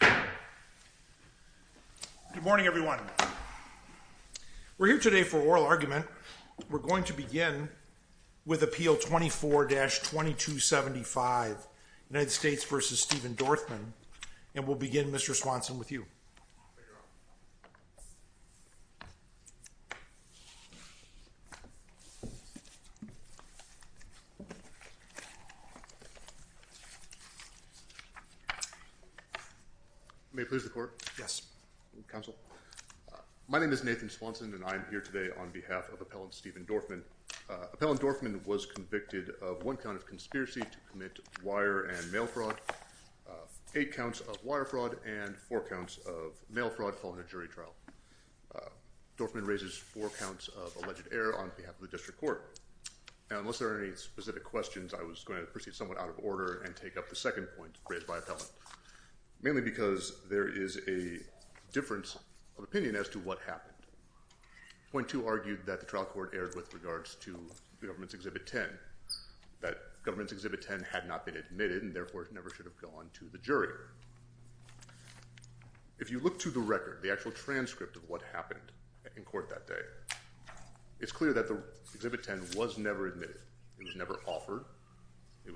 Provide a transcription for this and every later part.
Good morning, everyone. We're here today for oral argument. We're going to begin with Appeal 24-2275, United States v. Steven Dorfman, and we'll begin, Mr. Swanson, with you. May it please the Court? Yes, Counsel. My name is Nathan Swanson, and I'm here today on behalf of Appellant Steven Dorfman. Appellant Dorfman was convicted of one count of conspiracy to commit wire and mail fraud, eight counts of wire fraud, and four counts of mail fraud following a jury trial. Dorfman raises four counts of alleged error on behalf of the District Court. Now, unless there are any specific questions, I was going to proceed somewhat out of order and take up the second point raised by Appellant, mainly because there is a difference of opinion as to what happened. Point two argued that the trial court erred with regards to the government's Exhibit 10, that government's Exhibit 10 had not been admitted, and therefore it never should have gone to the jury. If you look to the record, the actual transcript of what happened in court that day, it's clear that the Exhibit 10 was never admitted. It was never offered. There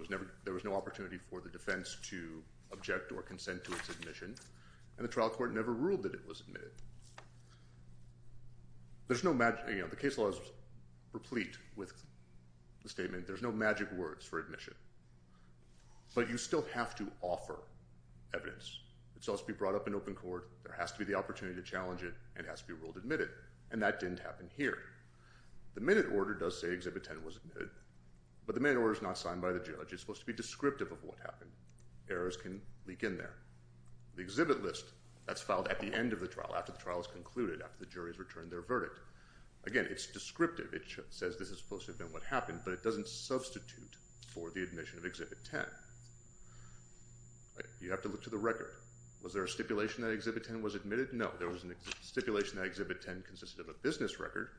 was no opportunity for the defense to object or consent to its admission, and the trial court never ruled that it was admitted. The case law is replete with the statement, there's no magic words for admission, but you still have to offer evidence. It's supposed to be brought up in open court, there has to be the opportunity to challenge it, and it has to be ruled admitted, and that didn't happen here. The minute order does say Exhibit 10 was admitted, but the minute order is not signed by the judge. It's supposed to be descriptive of what happened. Errors can leak in there. The exhibit list, that's filed at the end of the trial, after the trial is concluded, after the jury has returned their verdict. Again, it's descriptive. It says this is supposed to have been what happened, but it doesn't substitute for the admission of Exhibit 10. You have to look to the record. Was there a stipulation that Exhibit 10 was admitted? No. There was a stipulation that Exhibit 10 consisted of a business record,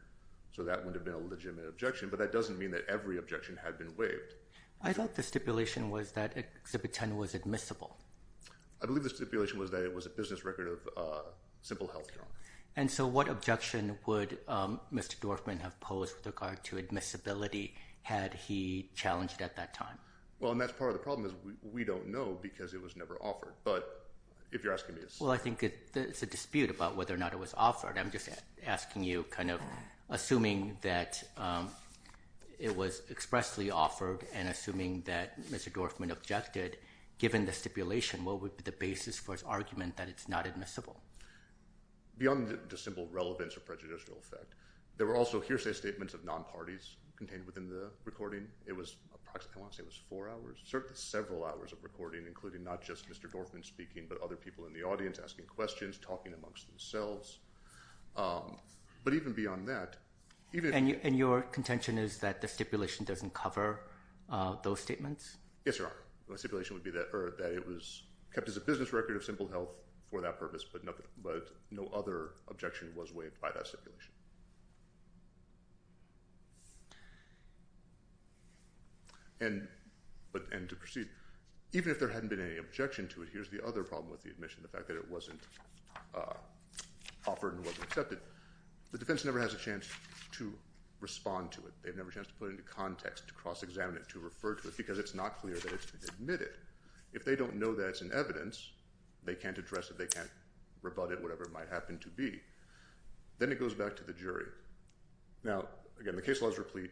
so that would have been a legitimate objection, but that doesn't mean that every objection had been waived. I thought the stipulation was that Exhibit 10 was admissible. I believe the stipulation was that it was a business record of Simple Health, Your Honor. And so what objection would Mr. Dorfman have posed with regard to admissibility had he challenged at that time? Well, and that's part of the problem is we don't know because it was never offered, but if you're asking me, it's— Well, I think it's a dispute about whether or not it was offered. I'm just asking you kind of assuming that it was expressly offered and assuming that Mr. Dorfman objected, given the stipulation, what would be the basis for his argument that it's not admissible? Beyond the simple relevance or prejudicial effect, there were also hearsay statements of non-parties contained within the recording. It was approximately—I want to say it was four hours, certainly several hours of recording, including not just Mr. Dorfman speaking, but other people in the audience asking questions, talking amongst themselves. But even beyond that— And your contention is that the stipulation doesn't cover those statements? Yes, Your Honor. My stipulation would be that it was kept as a business record of Simple Health for that purpose, but no other objection was waived by that stipulation. And to proceed, even if there hadn't been any objection to it, here's the other problem with the admission, the fact that it wasn't offered and wasn't accepted. The defense never has a chance to respond to it. They've never had a chance to put it into context, to cross-examine it, to refer to it, because it's not clear that it's been admitted. If they don't know that it's in evidence, they can't address it, they can't rebut it, whatever it might happen to be. Then it goes back to the jury. Now, again, the case law is replete.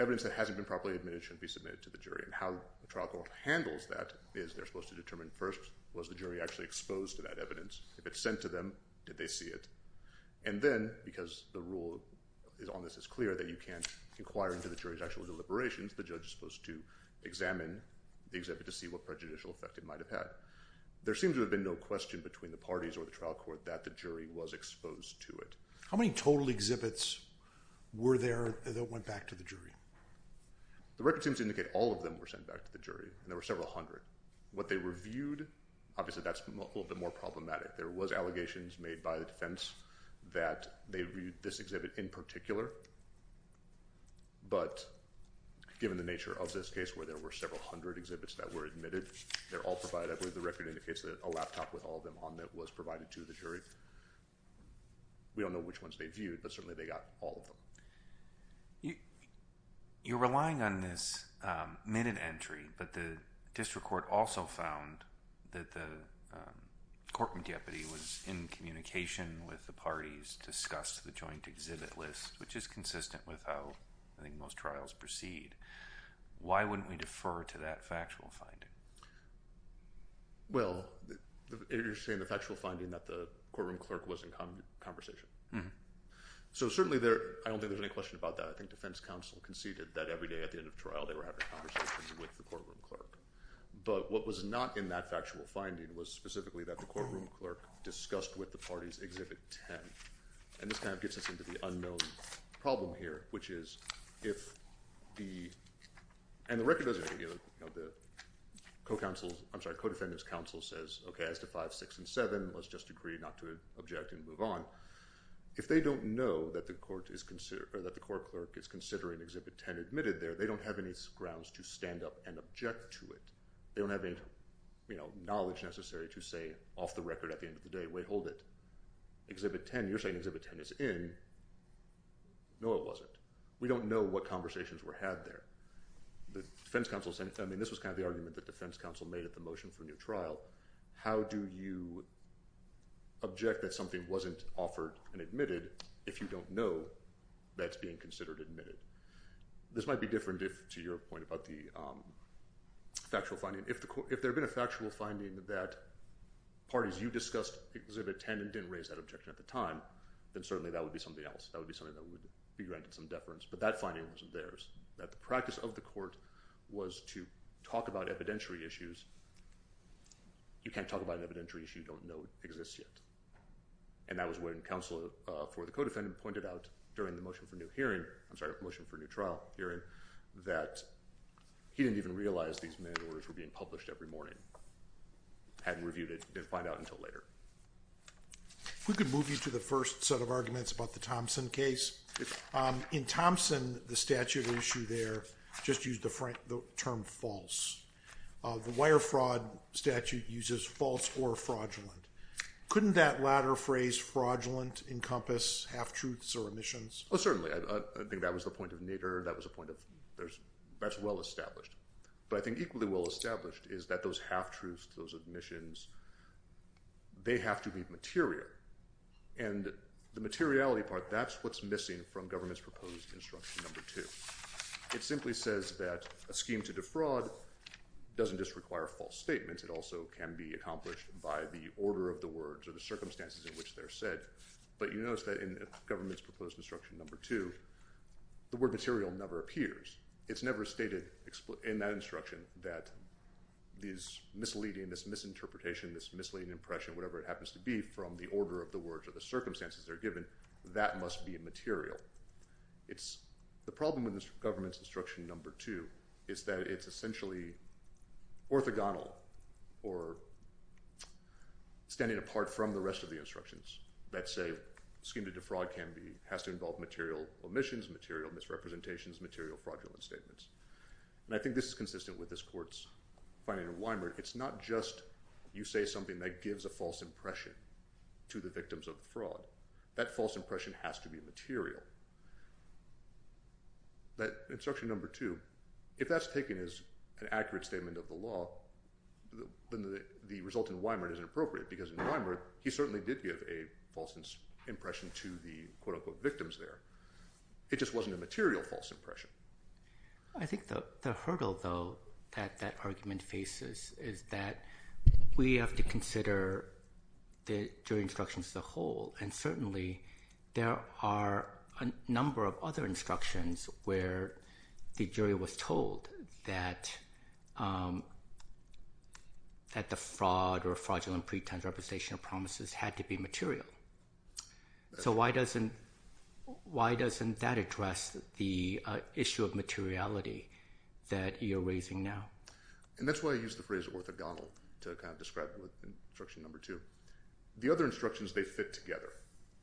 Evidence that hasn't been properly admitted shouldn't be submitted to the jury. And how the trial court handles that is they're supposed to determine, first, was the jury actually exposed to that evidence? If it's sent to them, did they see it? And then, because the rule on this is clear that you can't inquire into the jury's actual deliberations, the judge is supposed to examine the exhibit to see what prejudicial effect it might have had. There seems to have been no question between the parties or the trial court that the jury was exposed to it. How many total exhibits were there that went back to the jury? The record seems to indicate all of them were sent back to the jury, and there were several hundred. What they reviewed—obviously, that's a little bit more problematic. There was allegations made by the defense that they reviewed this exhibit in particular. But given the nature of this case, where there were several hundred exhibits that were admitted, they're all provided. I believe the record indicates that a laptop with all of them on it was provided to the jury. We don't know which ones they viewed, but certainly they got all of them. You're relying on this minute entry, but the district court also found that the courtroom deputy was in communication with the parties to discuss the joint exhibit list, which is consistent with how, I think, most trials proceed. Why wouldn't we defer to that factual finding? Well, you're saying the factual finding that the courtroom clerk was in conversation. So certainly there—I don't think there's any question about that. I think defense counsel conceded that every day at the end of trial they were having conversations with the courtroom clerk. But what was not in that factual finding was specifically that the courtroom clerk discussed with the parties exhibit 10. And this kind of gets us into the unknown problem here, which is if the—and the record doesn't indicate— the co-counsel's—I'm sorry, co-defendant's counsel says, okay, as to 5, 6, and 7, let's just agree not to object and move on. If they don't know that the court is—or that the court clerk is considering exhibit 10 admitted there, they don't have any grounds to stand up and object to it. They don't have any knowledge necessary to say off the record at the end of the day, wait, hold it. Exhibit 10, you're saying exhibit 10 is in. No, it wasn't. We don't know what conversations were had there. The defense counsel—I mean, this was kind of the argument that defense counsel made at the motion for new trial. How do you object that something wasn't offered and admitted if you don't know that it's being considered admitted? This might be different to your point about the factual finding. If there had been a factual finding that parties you discussed exhibit 10 and didn't raise that objection at the time, then certainly that would be something else. That would be something that would be granted some deference. But that finding wasn't theirs, that the practice of the court was to talk about evidentiary issues. You can't talk about an evidentiary issue you don't know exists yet. And that was when counsel for the co-defendant pointed out during the motion for new hearing—I'm sorry, hadn't reviewed it, didn't find out until later. If we could move you to the first set of arguments about the Thompson case. In Thompson, the statute issue there just used the term false. The wire fraud statute uses false or fraudulent. Couldn't that latter phrase, fraudulent, encompass half-truths or omissions? Oh, certainly. I think that was the point of Nader. That was a point of—that's well established. But I think equally well established is that those half-truths, those omissions, they have to be material. And the materiality part, that's what's missing from government's proposed Instruction No. 2. It simply says that a scheme to defraud doesn't just require false statements. It also can be accomplished by the order of the words or the circumstances in which they're said. But you notice that in government's proposed Instruction No. 2, the word material never appears. It's never stated in that instruction that this misleading, this misinterpretation, this misleading impression, whatever it happens to be, from the order of the words or the circumstances they're given, that must be a material. The problem with government's Instruction No. 2 is that it's essentially orthogonal or standing apart from the rest of the instructions that say a scheme to defraud has to involve material omissions, material misrepresentations, material fraudulent statements. And I think this is consistent with this court's finding in Weimer. It's not just you say something that gives a false impression to the victims of fraud. That false impression has to be material. That Instruction No. 2, if that's taken as an accurate statement of the law, then the result in Weimer is inappropriate because in Weimer he certainly did give a false impression to the quote-unquote victims there. It just wasn't a material false impression. I think the hurdle, though, that that argument faces is that we have to consider the jury instructions as a whole. And certainly there are a number of other instructions where the jury was told that the fraud or fraudulent pretense, representation of promises had to be material. So why doesn't that address the issue of materiality that you're raising now? And that's why I use the phrase orthogonal to describe Instruction No. 2. The other instructions, they fit together.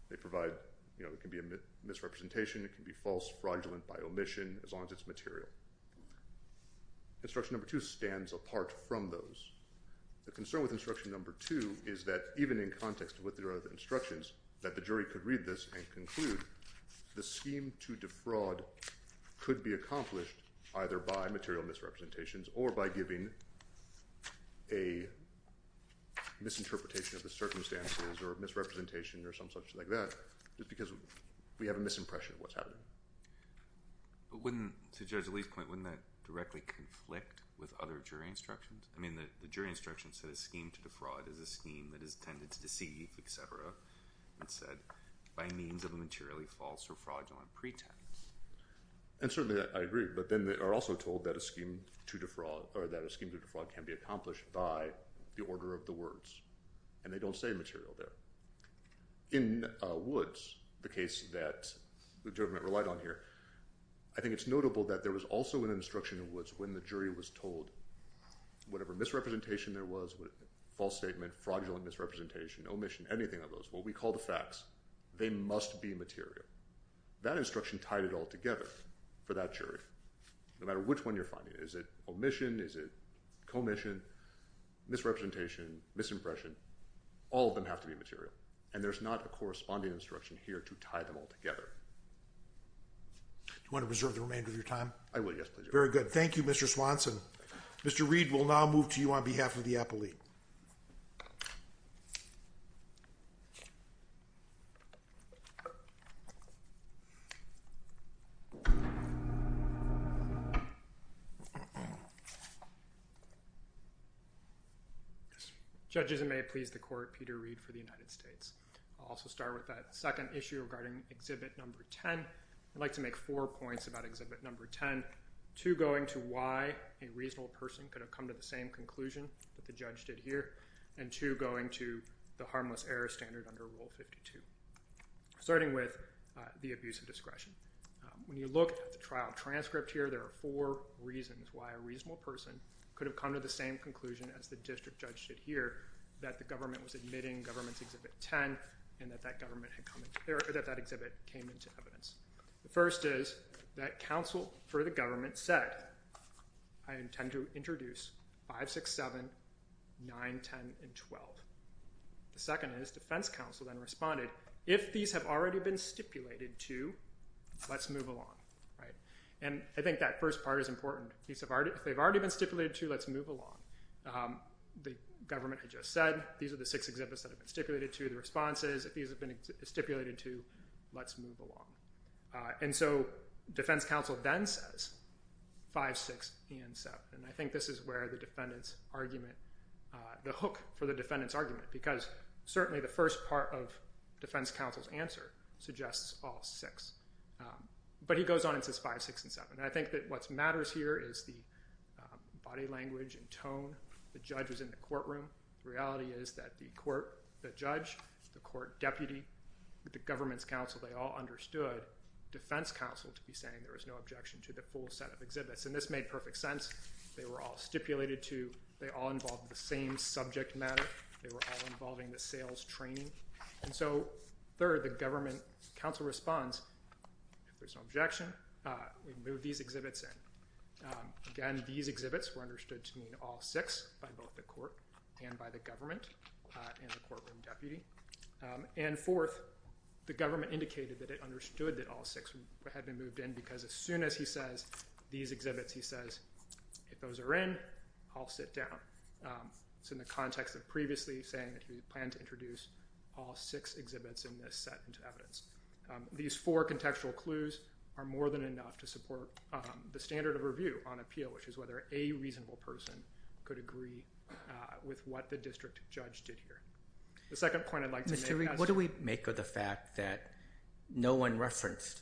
They provide, you know, it can be a misrepresentation. It can be false, fraudulent by omission as long as it's material. Instruction No. 2 stands apart from those. The concern with Instruction No. 2 is that even in context with the instructions that the jury could read this and conclude the scheme to defraud could be accomplished either by material misrepresentations or by giving a misinterpretation of the circumstances or misrepresentation or some such like that just because we have a misimpression of what's happening. But wouldn't, to Judge Lee's point, wouldn't that directly conflict with other jury instructions? I mean the jury instructions said a scheme to defraud is a scheme that is tended to deceive, et cetera. It's said by means of a materially false or fraudulent pretense. And certainly I agree. But then they are also told that a scheme to defraud or that a scheme to defraud can be accomplished by the order of the words. And they don't say material there. In Woods, the case that the government relied on here, I think it's notable that there was also an instruction in Woods when the jury was told whatever misrepresentation there was, false statement, fraudulent misrepresentation, omission, anything of those, what we call the facts, they must be material. That instruction tied it all together for that jury. No matter which one you're finding. Is it omission? Is it commission, misrepresentation, misimpression? All of them have to be material. And there's not a corresponding instruction here to tie them all together. Do you want to reserve the remainder of your time? I will. Yes, please. Very good. Thank you, Mr. Swanson. Mr. Reed, we'll now move to you on behalf of the appellee. Judges, it may please the court, Peter Reed for the United States. I'll also start with that second issue regarding Exhibit Number 10. I'd like to make four points about Exhibit Number 10. Two going to why a reasonable person could have come to the same conclusion that the judge did here. And two going to the harmless error standard under Rule 52. Starting with the abuse of discretion. When you look at the trial transcript here, there are four reasons why a reasonable person could have come to the same conclusion as the district judge did here that the government was admitting government's Exhibit 10 and that that exhibit came into evidence. The first is that counsel for the government said, I intend to introduce 5, 6, 7, 9, 10, and 12. The second is defense counsel then responded, if these have already been stipulated to, let's move along. And I think that first part is important. If they've already been stipulated to, let's move along. The government had just said these are the six exhibits that have been stipulated to, the response is if these have been stipulated to, let's move along. And so defense counsel then says 5, 6, and 7. And I think this is where the hook for the defendant's argument, because certainly the first part of defense counsel's answer suggests all six. But he goes on and says 5, 6, and 7. And I think that what matters here is the body language and tone. The judge was in the courtroom. The reality is that the judge, the court deputy, the government's counsel, they all understood defense counsel to be saying there is no objection to the full set of exhibits. And this made perfect sense. They were all stipulated to. They all involved the same subject matter. They were all involving the sales training. And so, third, the government counsel responds, if there's no objection, we move these exhibits in. Again, these exhibits were understood to mean all six by both the court and by the government and the courtroom deputy. And fourth, the government indicated that it understood that all six had been moved in because as soon as he says these exhibits, he says, if those are in, I'll sit down. It's in the context of previously saying that he planned to introduce all six exhibits in this set into evidence. These four contextual clues are more than enough to support the standard of review on appeal, which is whether a reasonable person could agree with what the district judge did here. The second point I'd like to make is... Mr. Rieck, what do we make of the fact that no one referenced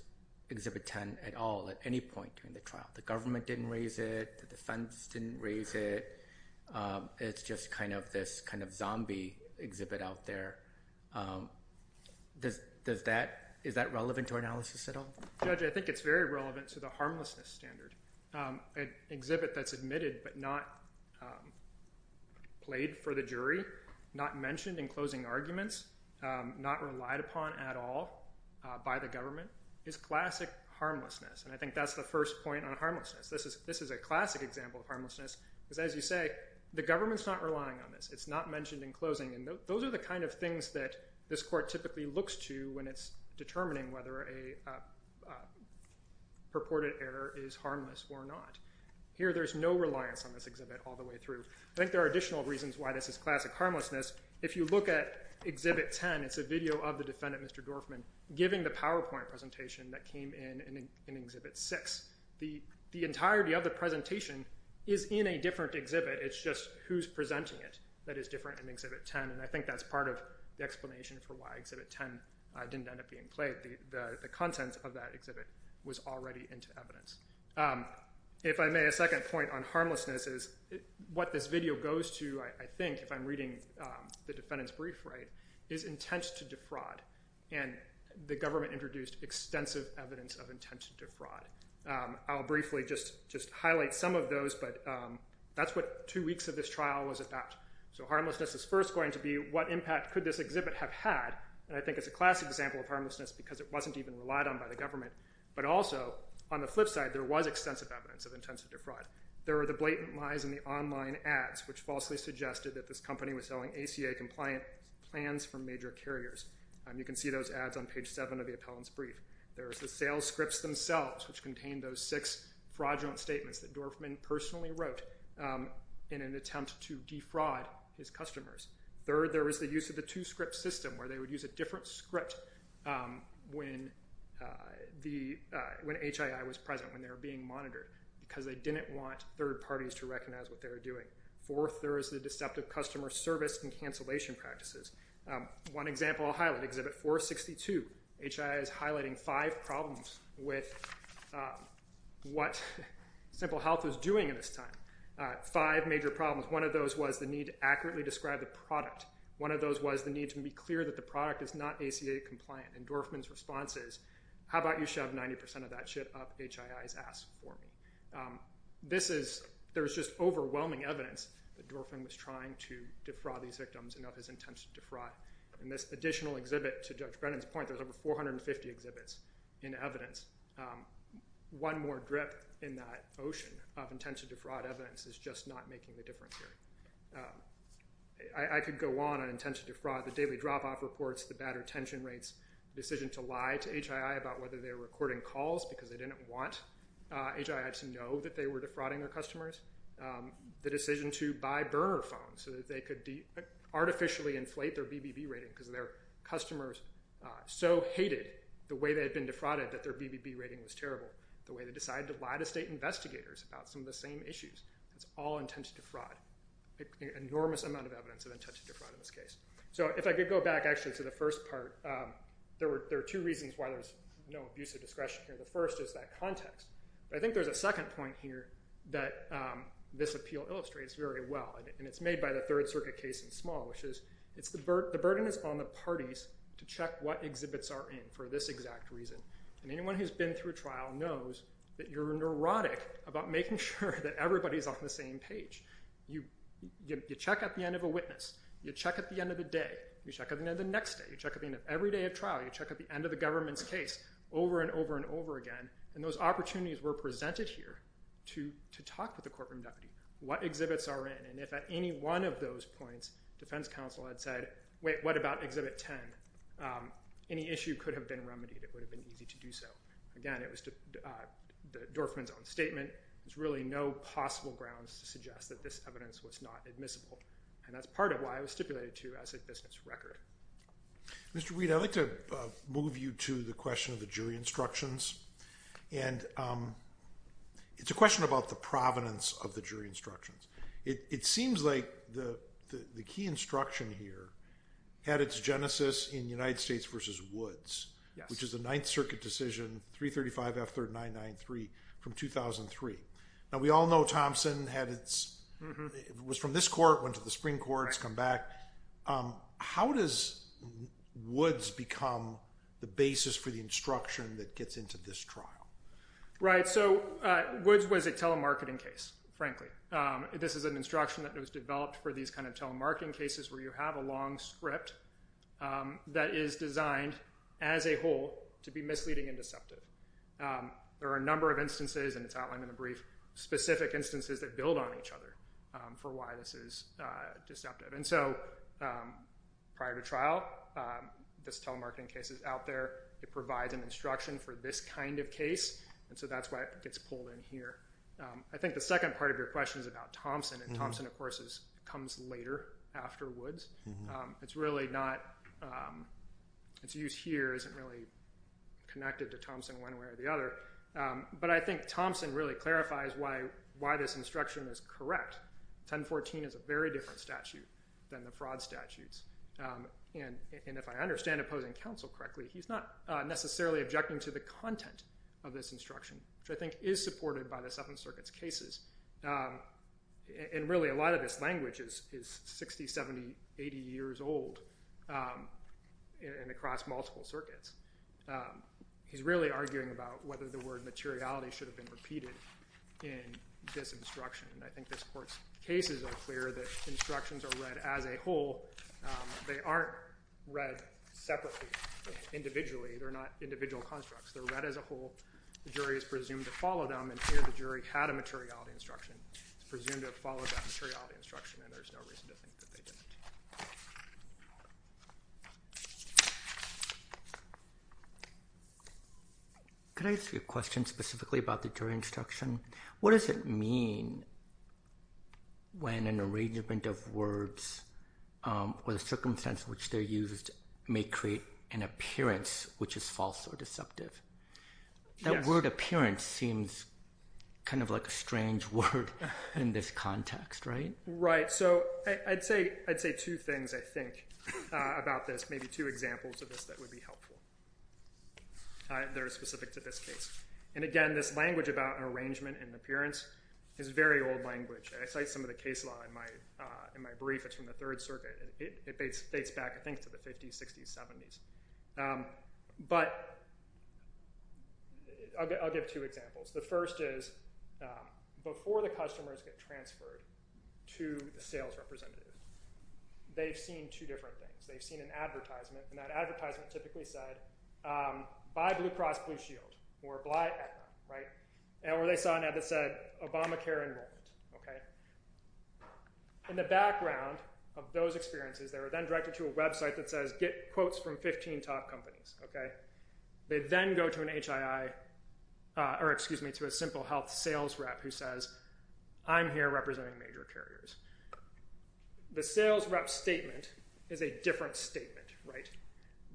Exhibit 10 at all at any point during the trial? The government didn't raise it. The defense didn't raise it. It's just kind of this kind of zombie exhibit out there. Is that relevant to our analysis at all? Judge, I think it's very relevant to the harmlessness standard. An exhibit that's admitted but not played for the jury, not mentioned in closing arguments, not relied upon at all by the government is classic harmlessness, and I think that's the first point on harmlessness. This is a classic example of harmlessness because, as you say, the government's not relying on this. It's not mentioned in closing, and those are the kind of things that this court typically looks to when it's determining whether a purported error is harmless or not. Here, there's no reliance on this exhibit all the way through. I think there are additional reasons why this is classic harmlessness. If you look at Exhibit 10, it's a video of the defendant, Mr. Dorfman, giving the PowerPoint presentation that came in in Exhibit 6. The entirety of the presentation is in a different exhibit. It's just who's presenting it that is different in Exhibit 10, and I think that's part of the explanation for why Exhibit 10 didn't end up being played. The contents of that exhibit was already into evidence. If I may, a second point on harmlessness is what this video goes to, I think, if I'm reading the defendant's brief right, is intent to defraud, and the government introduced extensive evidence of intent to defraud. I'll briefly just highlight some of those, but that's what two weeks of this trial was about. So harmlessness is first going to be what impact could this exhibit have had, and I think it's a classic example of harmlessness because it wasn't even relied on by the government, but also, on the flip side, there was extensive evidence of intent to defraud. There were the blatant lies in the online ads, which falsely suggested that this company was selling ACA-compliant plans for major carriers. You can see those ads on page 7 of the appellant's brief. There's the sales scripts themselves, which contain those six fraudulent statements that Dorfman personally wrote in an attempt to defraud his customers. Third, there was the use of the two-script system, where they would use a different script when HII was present, when they were being monitored, because they didn't want third parties to recognize what they were doing. Fourth, there is the deceptive customer service and cancellation practices. One example I'll highlight, Exhibit 462. HII is highlighting five problems with what Simple Health was doing at this time. Five major problems. One of those was the need to accurately describe the product. One of those was the need to be clear that the product is not ACA-compliant, and Dorfman's response is, how about you shove 90% of that shit up HII's ass for me? There's just overwhelming evidence that Dorfman was trying to defraud these victims and of his intent to defraud. In this additional exhibit, to Judge Brennan's point, there's over 450 exhibits in evidence. One more drip in that ocean of intent to defraud evidence is just not making the difference here. I could go on on intent to defraud. The daily drop-off reports, the bad retention rates, the decision to lie to HII about whether they were recording calls because they didn't want HII to know that they were defrauding their customers, the decision to buy burner phones so that they could artificially inflate their BBB rating because their customers so hated the way they had been defrauded that their BBB rating was terrible, the way they decided to lie to state investigators about some of the same issues. It's all intent to defraud. Enormous amount of evidence of intent to defraud in this case. If I could go back actually to the first part, there are two reasons why there's no abuse of discretion here. The first is that context. I think there's a second point here that this appeal illustrates very well, and it's made by the Third Circuit case in small, which is the burden is on the parties to check what exhibits are in for this exact reason. Anyone who's been through trial knows that you're neurotic about making sure that everybody's on the same page. You check at the end of a witness. You check at the end of the day. You check at the end of the next day. You check at the end of every day of trial. You check at the end of the government's case over and over and over again, and those opportunities were presented here to talk with the courtroom deputy. What exhibits are in, and if at any one of those points, defense counsel had said, wait, what about exhibit 10? Any issue could have been remedied. It would have been easy to do so. Again, it was the Dorfman's own statement. There's really no possible grounds to suggest that this evidence was not admissible, and that's part of why it was stipulated to as a business record. Mr. Weed, I'd like to move you to the question of the jury instructions, and it's a question about the provenance of the jury instructions. It seems like the key instruction here had its genesis in United States v. Woods, which is the Ninth Circuit decision, 335 F 3993 from 2003. Now, we all know Thompson had its – was from this court, went to the Supreme Court, has come back. How does Woods become the basis for the instruction that gets into this trial? Right. So Woods was a telemarketing case, frankly. This is an instruction that was developed for these kind of telemarketing cases where you have a long script that is designed as a whole to be misleading and deceptive. There are a number of instances, and it's outlined in the brief, specific instances that build on each other for why this is deceptive. And so prior to trial, this telemarketing case is out there. It provides an instruction for this kind of case, and so that's why it gets pulled in here. I think the second part of your question is about Thompson, and Thompson, of course, comes later after Woods. It's really not – its use here isn't really connected to Thompson one way or the other, but I think Thompson really clarifies why this instruction is correct. 1014 is a very different statute than the fraud statutes, and if I understand Opposing Counsel correctly, he's not necessarily objecting to the content of this instruction, which I think is supported by the Seventh Circuit's cases, and really a lot of this language is 60, 70, 80 years old and across multiple circuits. He's really arguing about whether the word materiality should have been repeated in this instruction, and I think this Court's cases are clear that instructions are read as a whole. They aren't read separately, individually. They're not individual constructs. They're read as a whole. The jury is presumed to follow them, and here the jury had a materiality instruction. It's presumed to have followed that materiality instruction, and there's no reason to think that they didn't. Could I ask you a question specifically about the jury instruction? What does it mean when an arrangement of words or the circumstance in which they're used may create an appearance which is false or deceptive? That word appearance seems kind of like a strange word in this context, right? Right. So I'd say two things, I think, about this, maybe two examples of this that would be helpful that are specific to this case, and again, this language about an arrangement and appearance is very old language. I cite some of the case law in my brief. It's from the Third Circuit. It dates back, I think, to the 50s, 60s, 70s, but I'll give two examples. The first is before the customers get transferred to the sales representative, they've seen two different things. They've seen an advertisement, and that advertisement typically said, buy Blue Cross Blue Shield or apply at home, right? Or they saw an ad that said Obamacare enrollment, okay? In the background of those experiences, they were then directed to a website that says, get quotes from 15 top companies, okay? They then go to an HII or, excuse me, to a Simple Health sales rep who says, I'm here representing major carriers. The sales rep's statement is a different statement, right?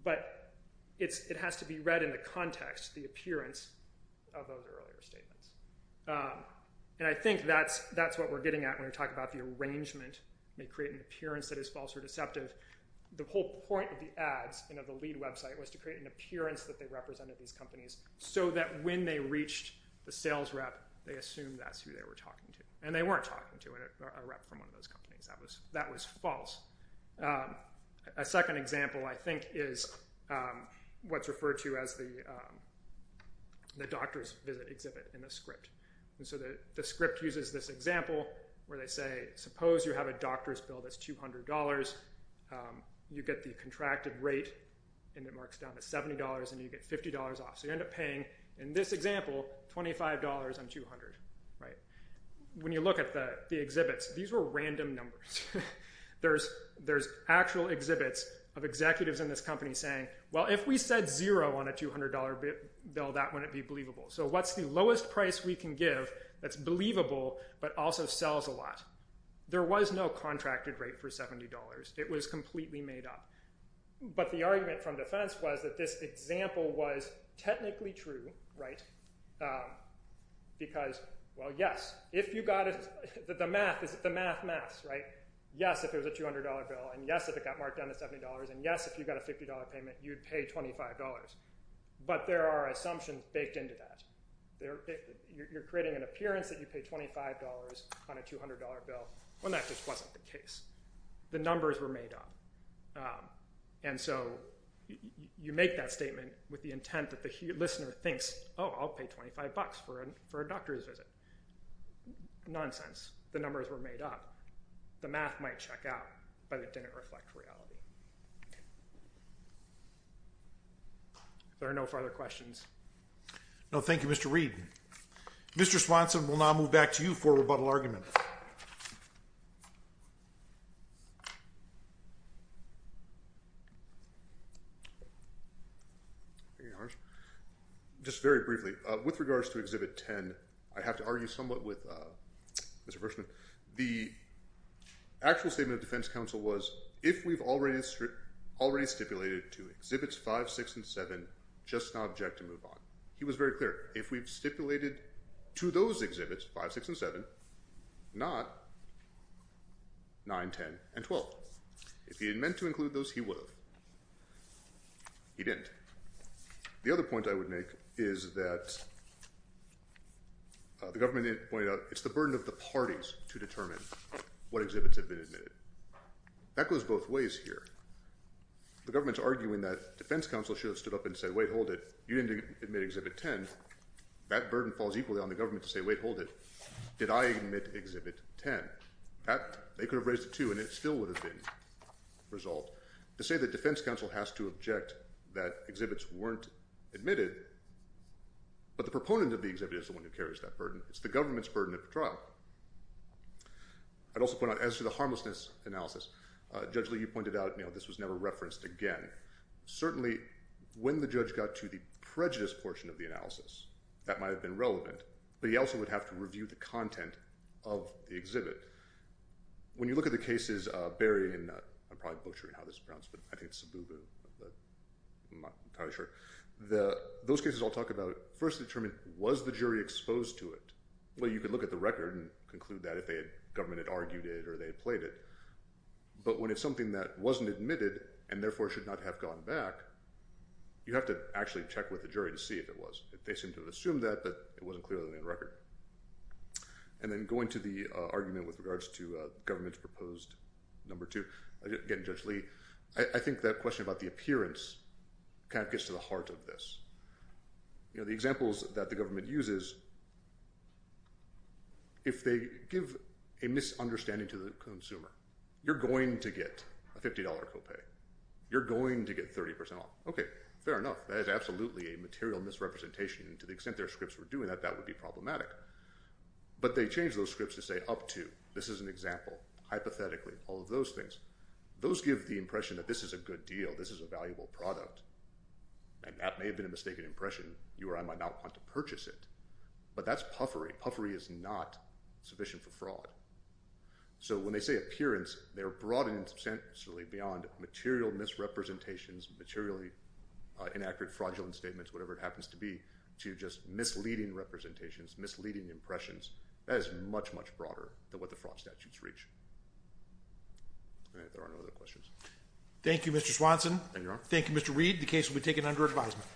But it has to be read in the context, the appearance of those earlier statements, and I think that's what we're getting at when we talk about the arrangement may create an appearance that is false or deceptive. The whole point of the ads and of the lead website was to create an appearance that they represented these companies so that when they reached the sales rep, they assumed that's who they were talking to, and they weren't talking to a rep from one of those companies. That was false. A second example, I think, is what's referred to as the doctor's visit exhibit in the script. And so the script uses this example where they say, suppose you have a doctor's bill that's $200. You get the contracted rate, and it marks down to $70, and you get $50 off. So you end up paying, in this example, $25 on $200, right? When you look at the exhibits, these were random numbers. There's actual exhibits of executives in this company saying, well, if we said zero on a $200 bill, that wouldn't be believable. So what's the lowest price we can give that's believable but also sells a lot? There was no contracted rate for $70. It was completely made up. But the argument from defense was that this example was technically true, right? Because, well, yes, if you got it, the math is the math, math, right? Yes, if it was a $200 bill, and yes, if it got marked down to $70, and yes, if you got a $50 payment, you'd pay $25. But there are assumptions baked into that. You're creating an appearance that you'd pay $25 on a $200 bill when that just wasn't the case. The numbers were made up. And so you make that statement with the intent that the listener thinks, oh, I'll pay $25 for a doctor's visit. Nonsense. The numbers were made up. The math might check out, but it didn't reflect reality. There are no further questions. No, thank you, Mr. Reed. Mr. Swanson, we'll now move back to you for rebuttal argument. Just very briefly. With regards to Exhibit 10, I have to argue somewhat with Mr. Verschman. The actual statement of defense counsel was, if we've already stipulated to Exhibits 5, 6, and 7, just now object to move on. He was very clear. If we've stipulated to those exhibits, 5, 6, and 7, not 9, 10, and 12. If he had meant to include those, he would have. He didn't. The other point I would make is that the government pointed out it's the burden of the parties to determine what exhibits have been admitted. That goes both ways here. The government's arguing that defense counsel should have stood up and said, wait, hold it. You didn't admit Exhibit 10. That burden falls equally on the government to say, wait, hold it. Did I admit Exhibit 10? They could have raised it, too, and it still would have been resolved. To say that defense counsel has to object that exhibits weren't admitted, but the proponent of the exhibit is the one who carries that burden. It's the government's burden at the trial. I'd also point out, as to the harmlessness analysis, Judge Lee, you pointed out this was never referenced again. Certainly, when the judge got to the prejudice portion of the analysis, that might have been relevant, but he also would have to review the content of the exhibit. When you look at the cases buried in, I'm probably butchering how this is pronounced, but I think it's Sububu, but I'm not entirely sure. Those cases I'll talk about first determined, was the jury exposed to it? Well, you could look at the record and conclude that if the government had argued it or they had played it. But when it's something that wasn't admitted and, therefore, should not have gone back, you have to actually check with the jury to see if it was. They seem to have assumed that, but it wasn't clearly in the record. And then going to the argument with regards to government's proposed number two, again, Judge Lee, I think that question about the appearance kind of gets to the heart of this. The examples that the government uses, if they give a misunderstanding to the consumer, you're going to get a $50 copay. You're going to get 30% off. Okay, fair enough. That is absolutely a material misrepresentation, and to the extent their scripts were doing that, that would be problematic. But they changed those scripts to say, up to. This is an example. Hypothetically, all of those things. Those give the impression that this is a good deal. This is a valuable product. And that may have been a mistaken impression. You or I might not want to purchase it. But that's puffery. Puffery is not sufficient for fraud. So when they say appearance, they're broadened substantially beyond material misrepresentations, materially inaccurate fraudulent statements, whatever it happens to be, to just misleading representations, misleading impressions. That is much, much broader than what the fraud statutes reach. All right, there are no other questions. Thank you, Mr. Swanson. Thank you, Your Honor. The case will be taken under advisement.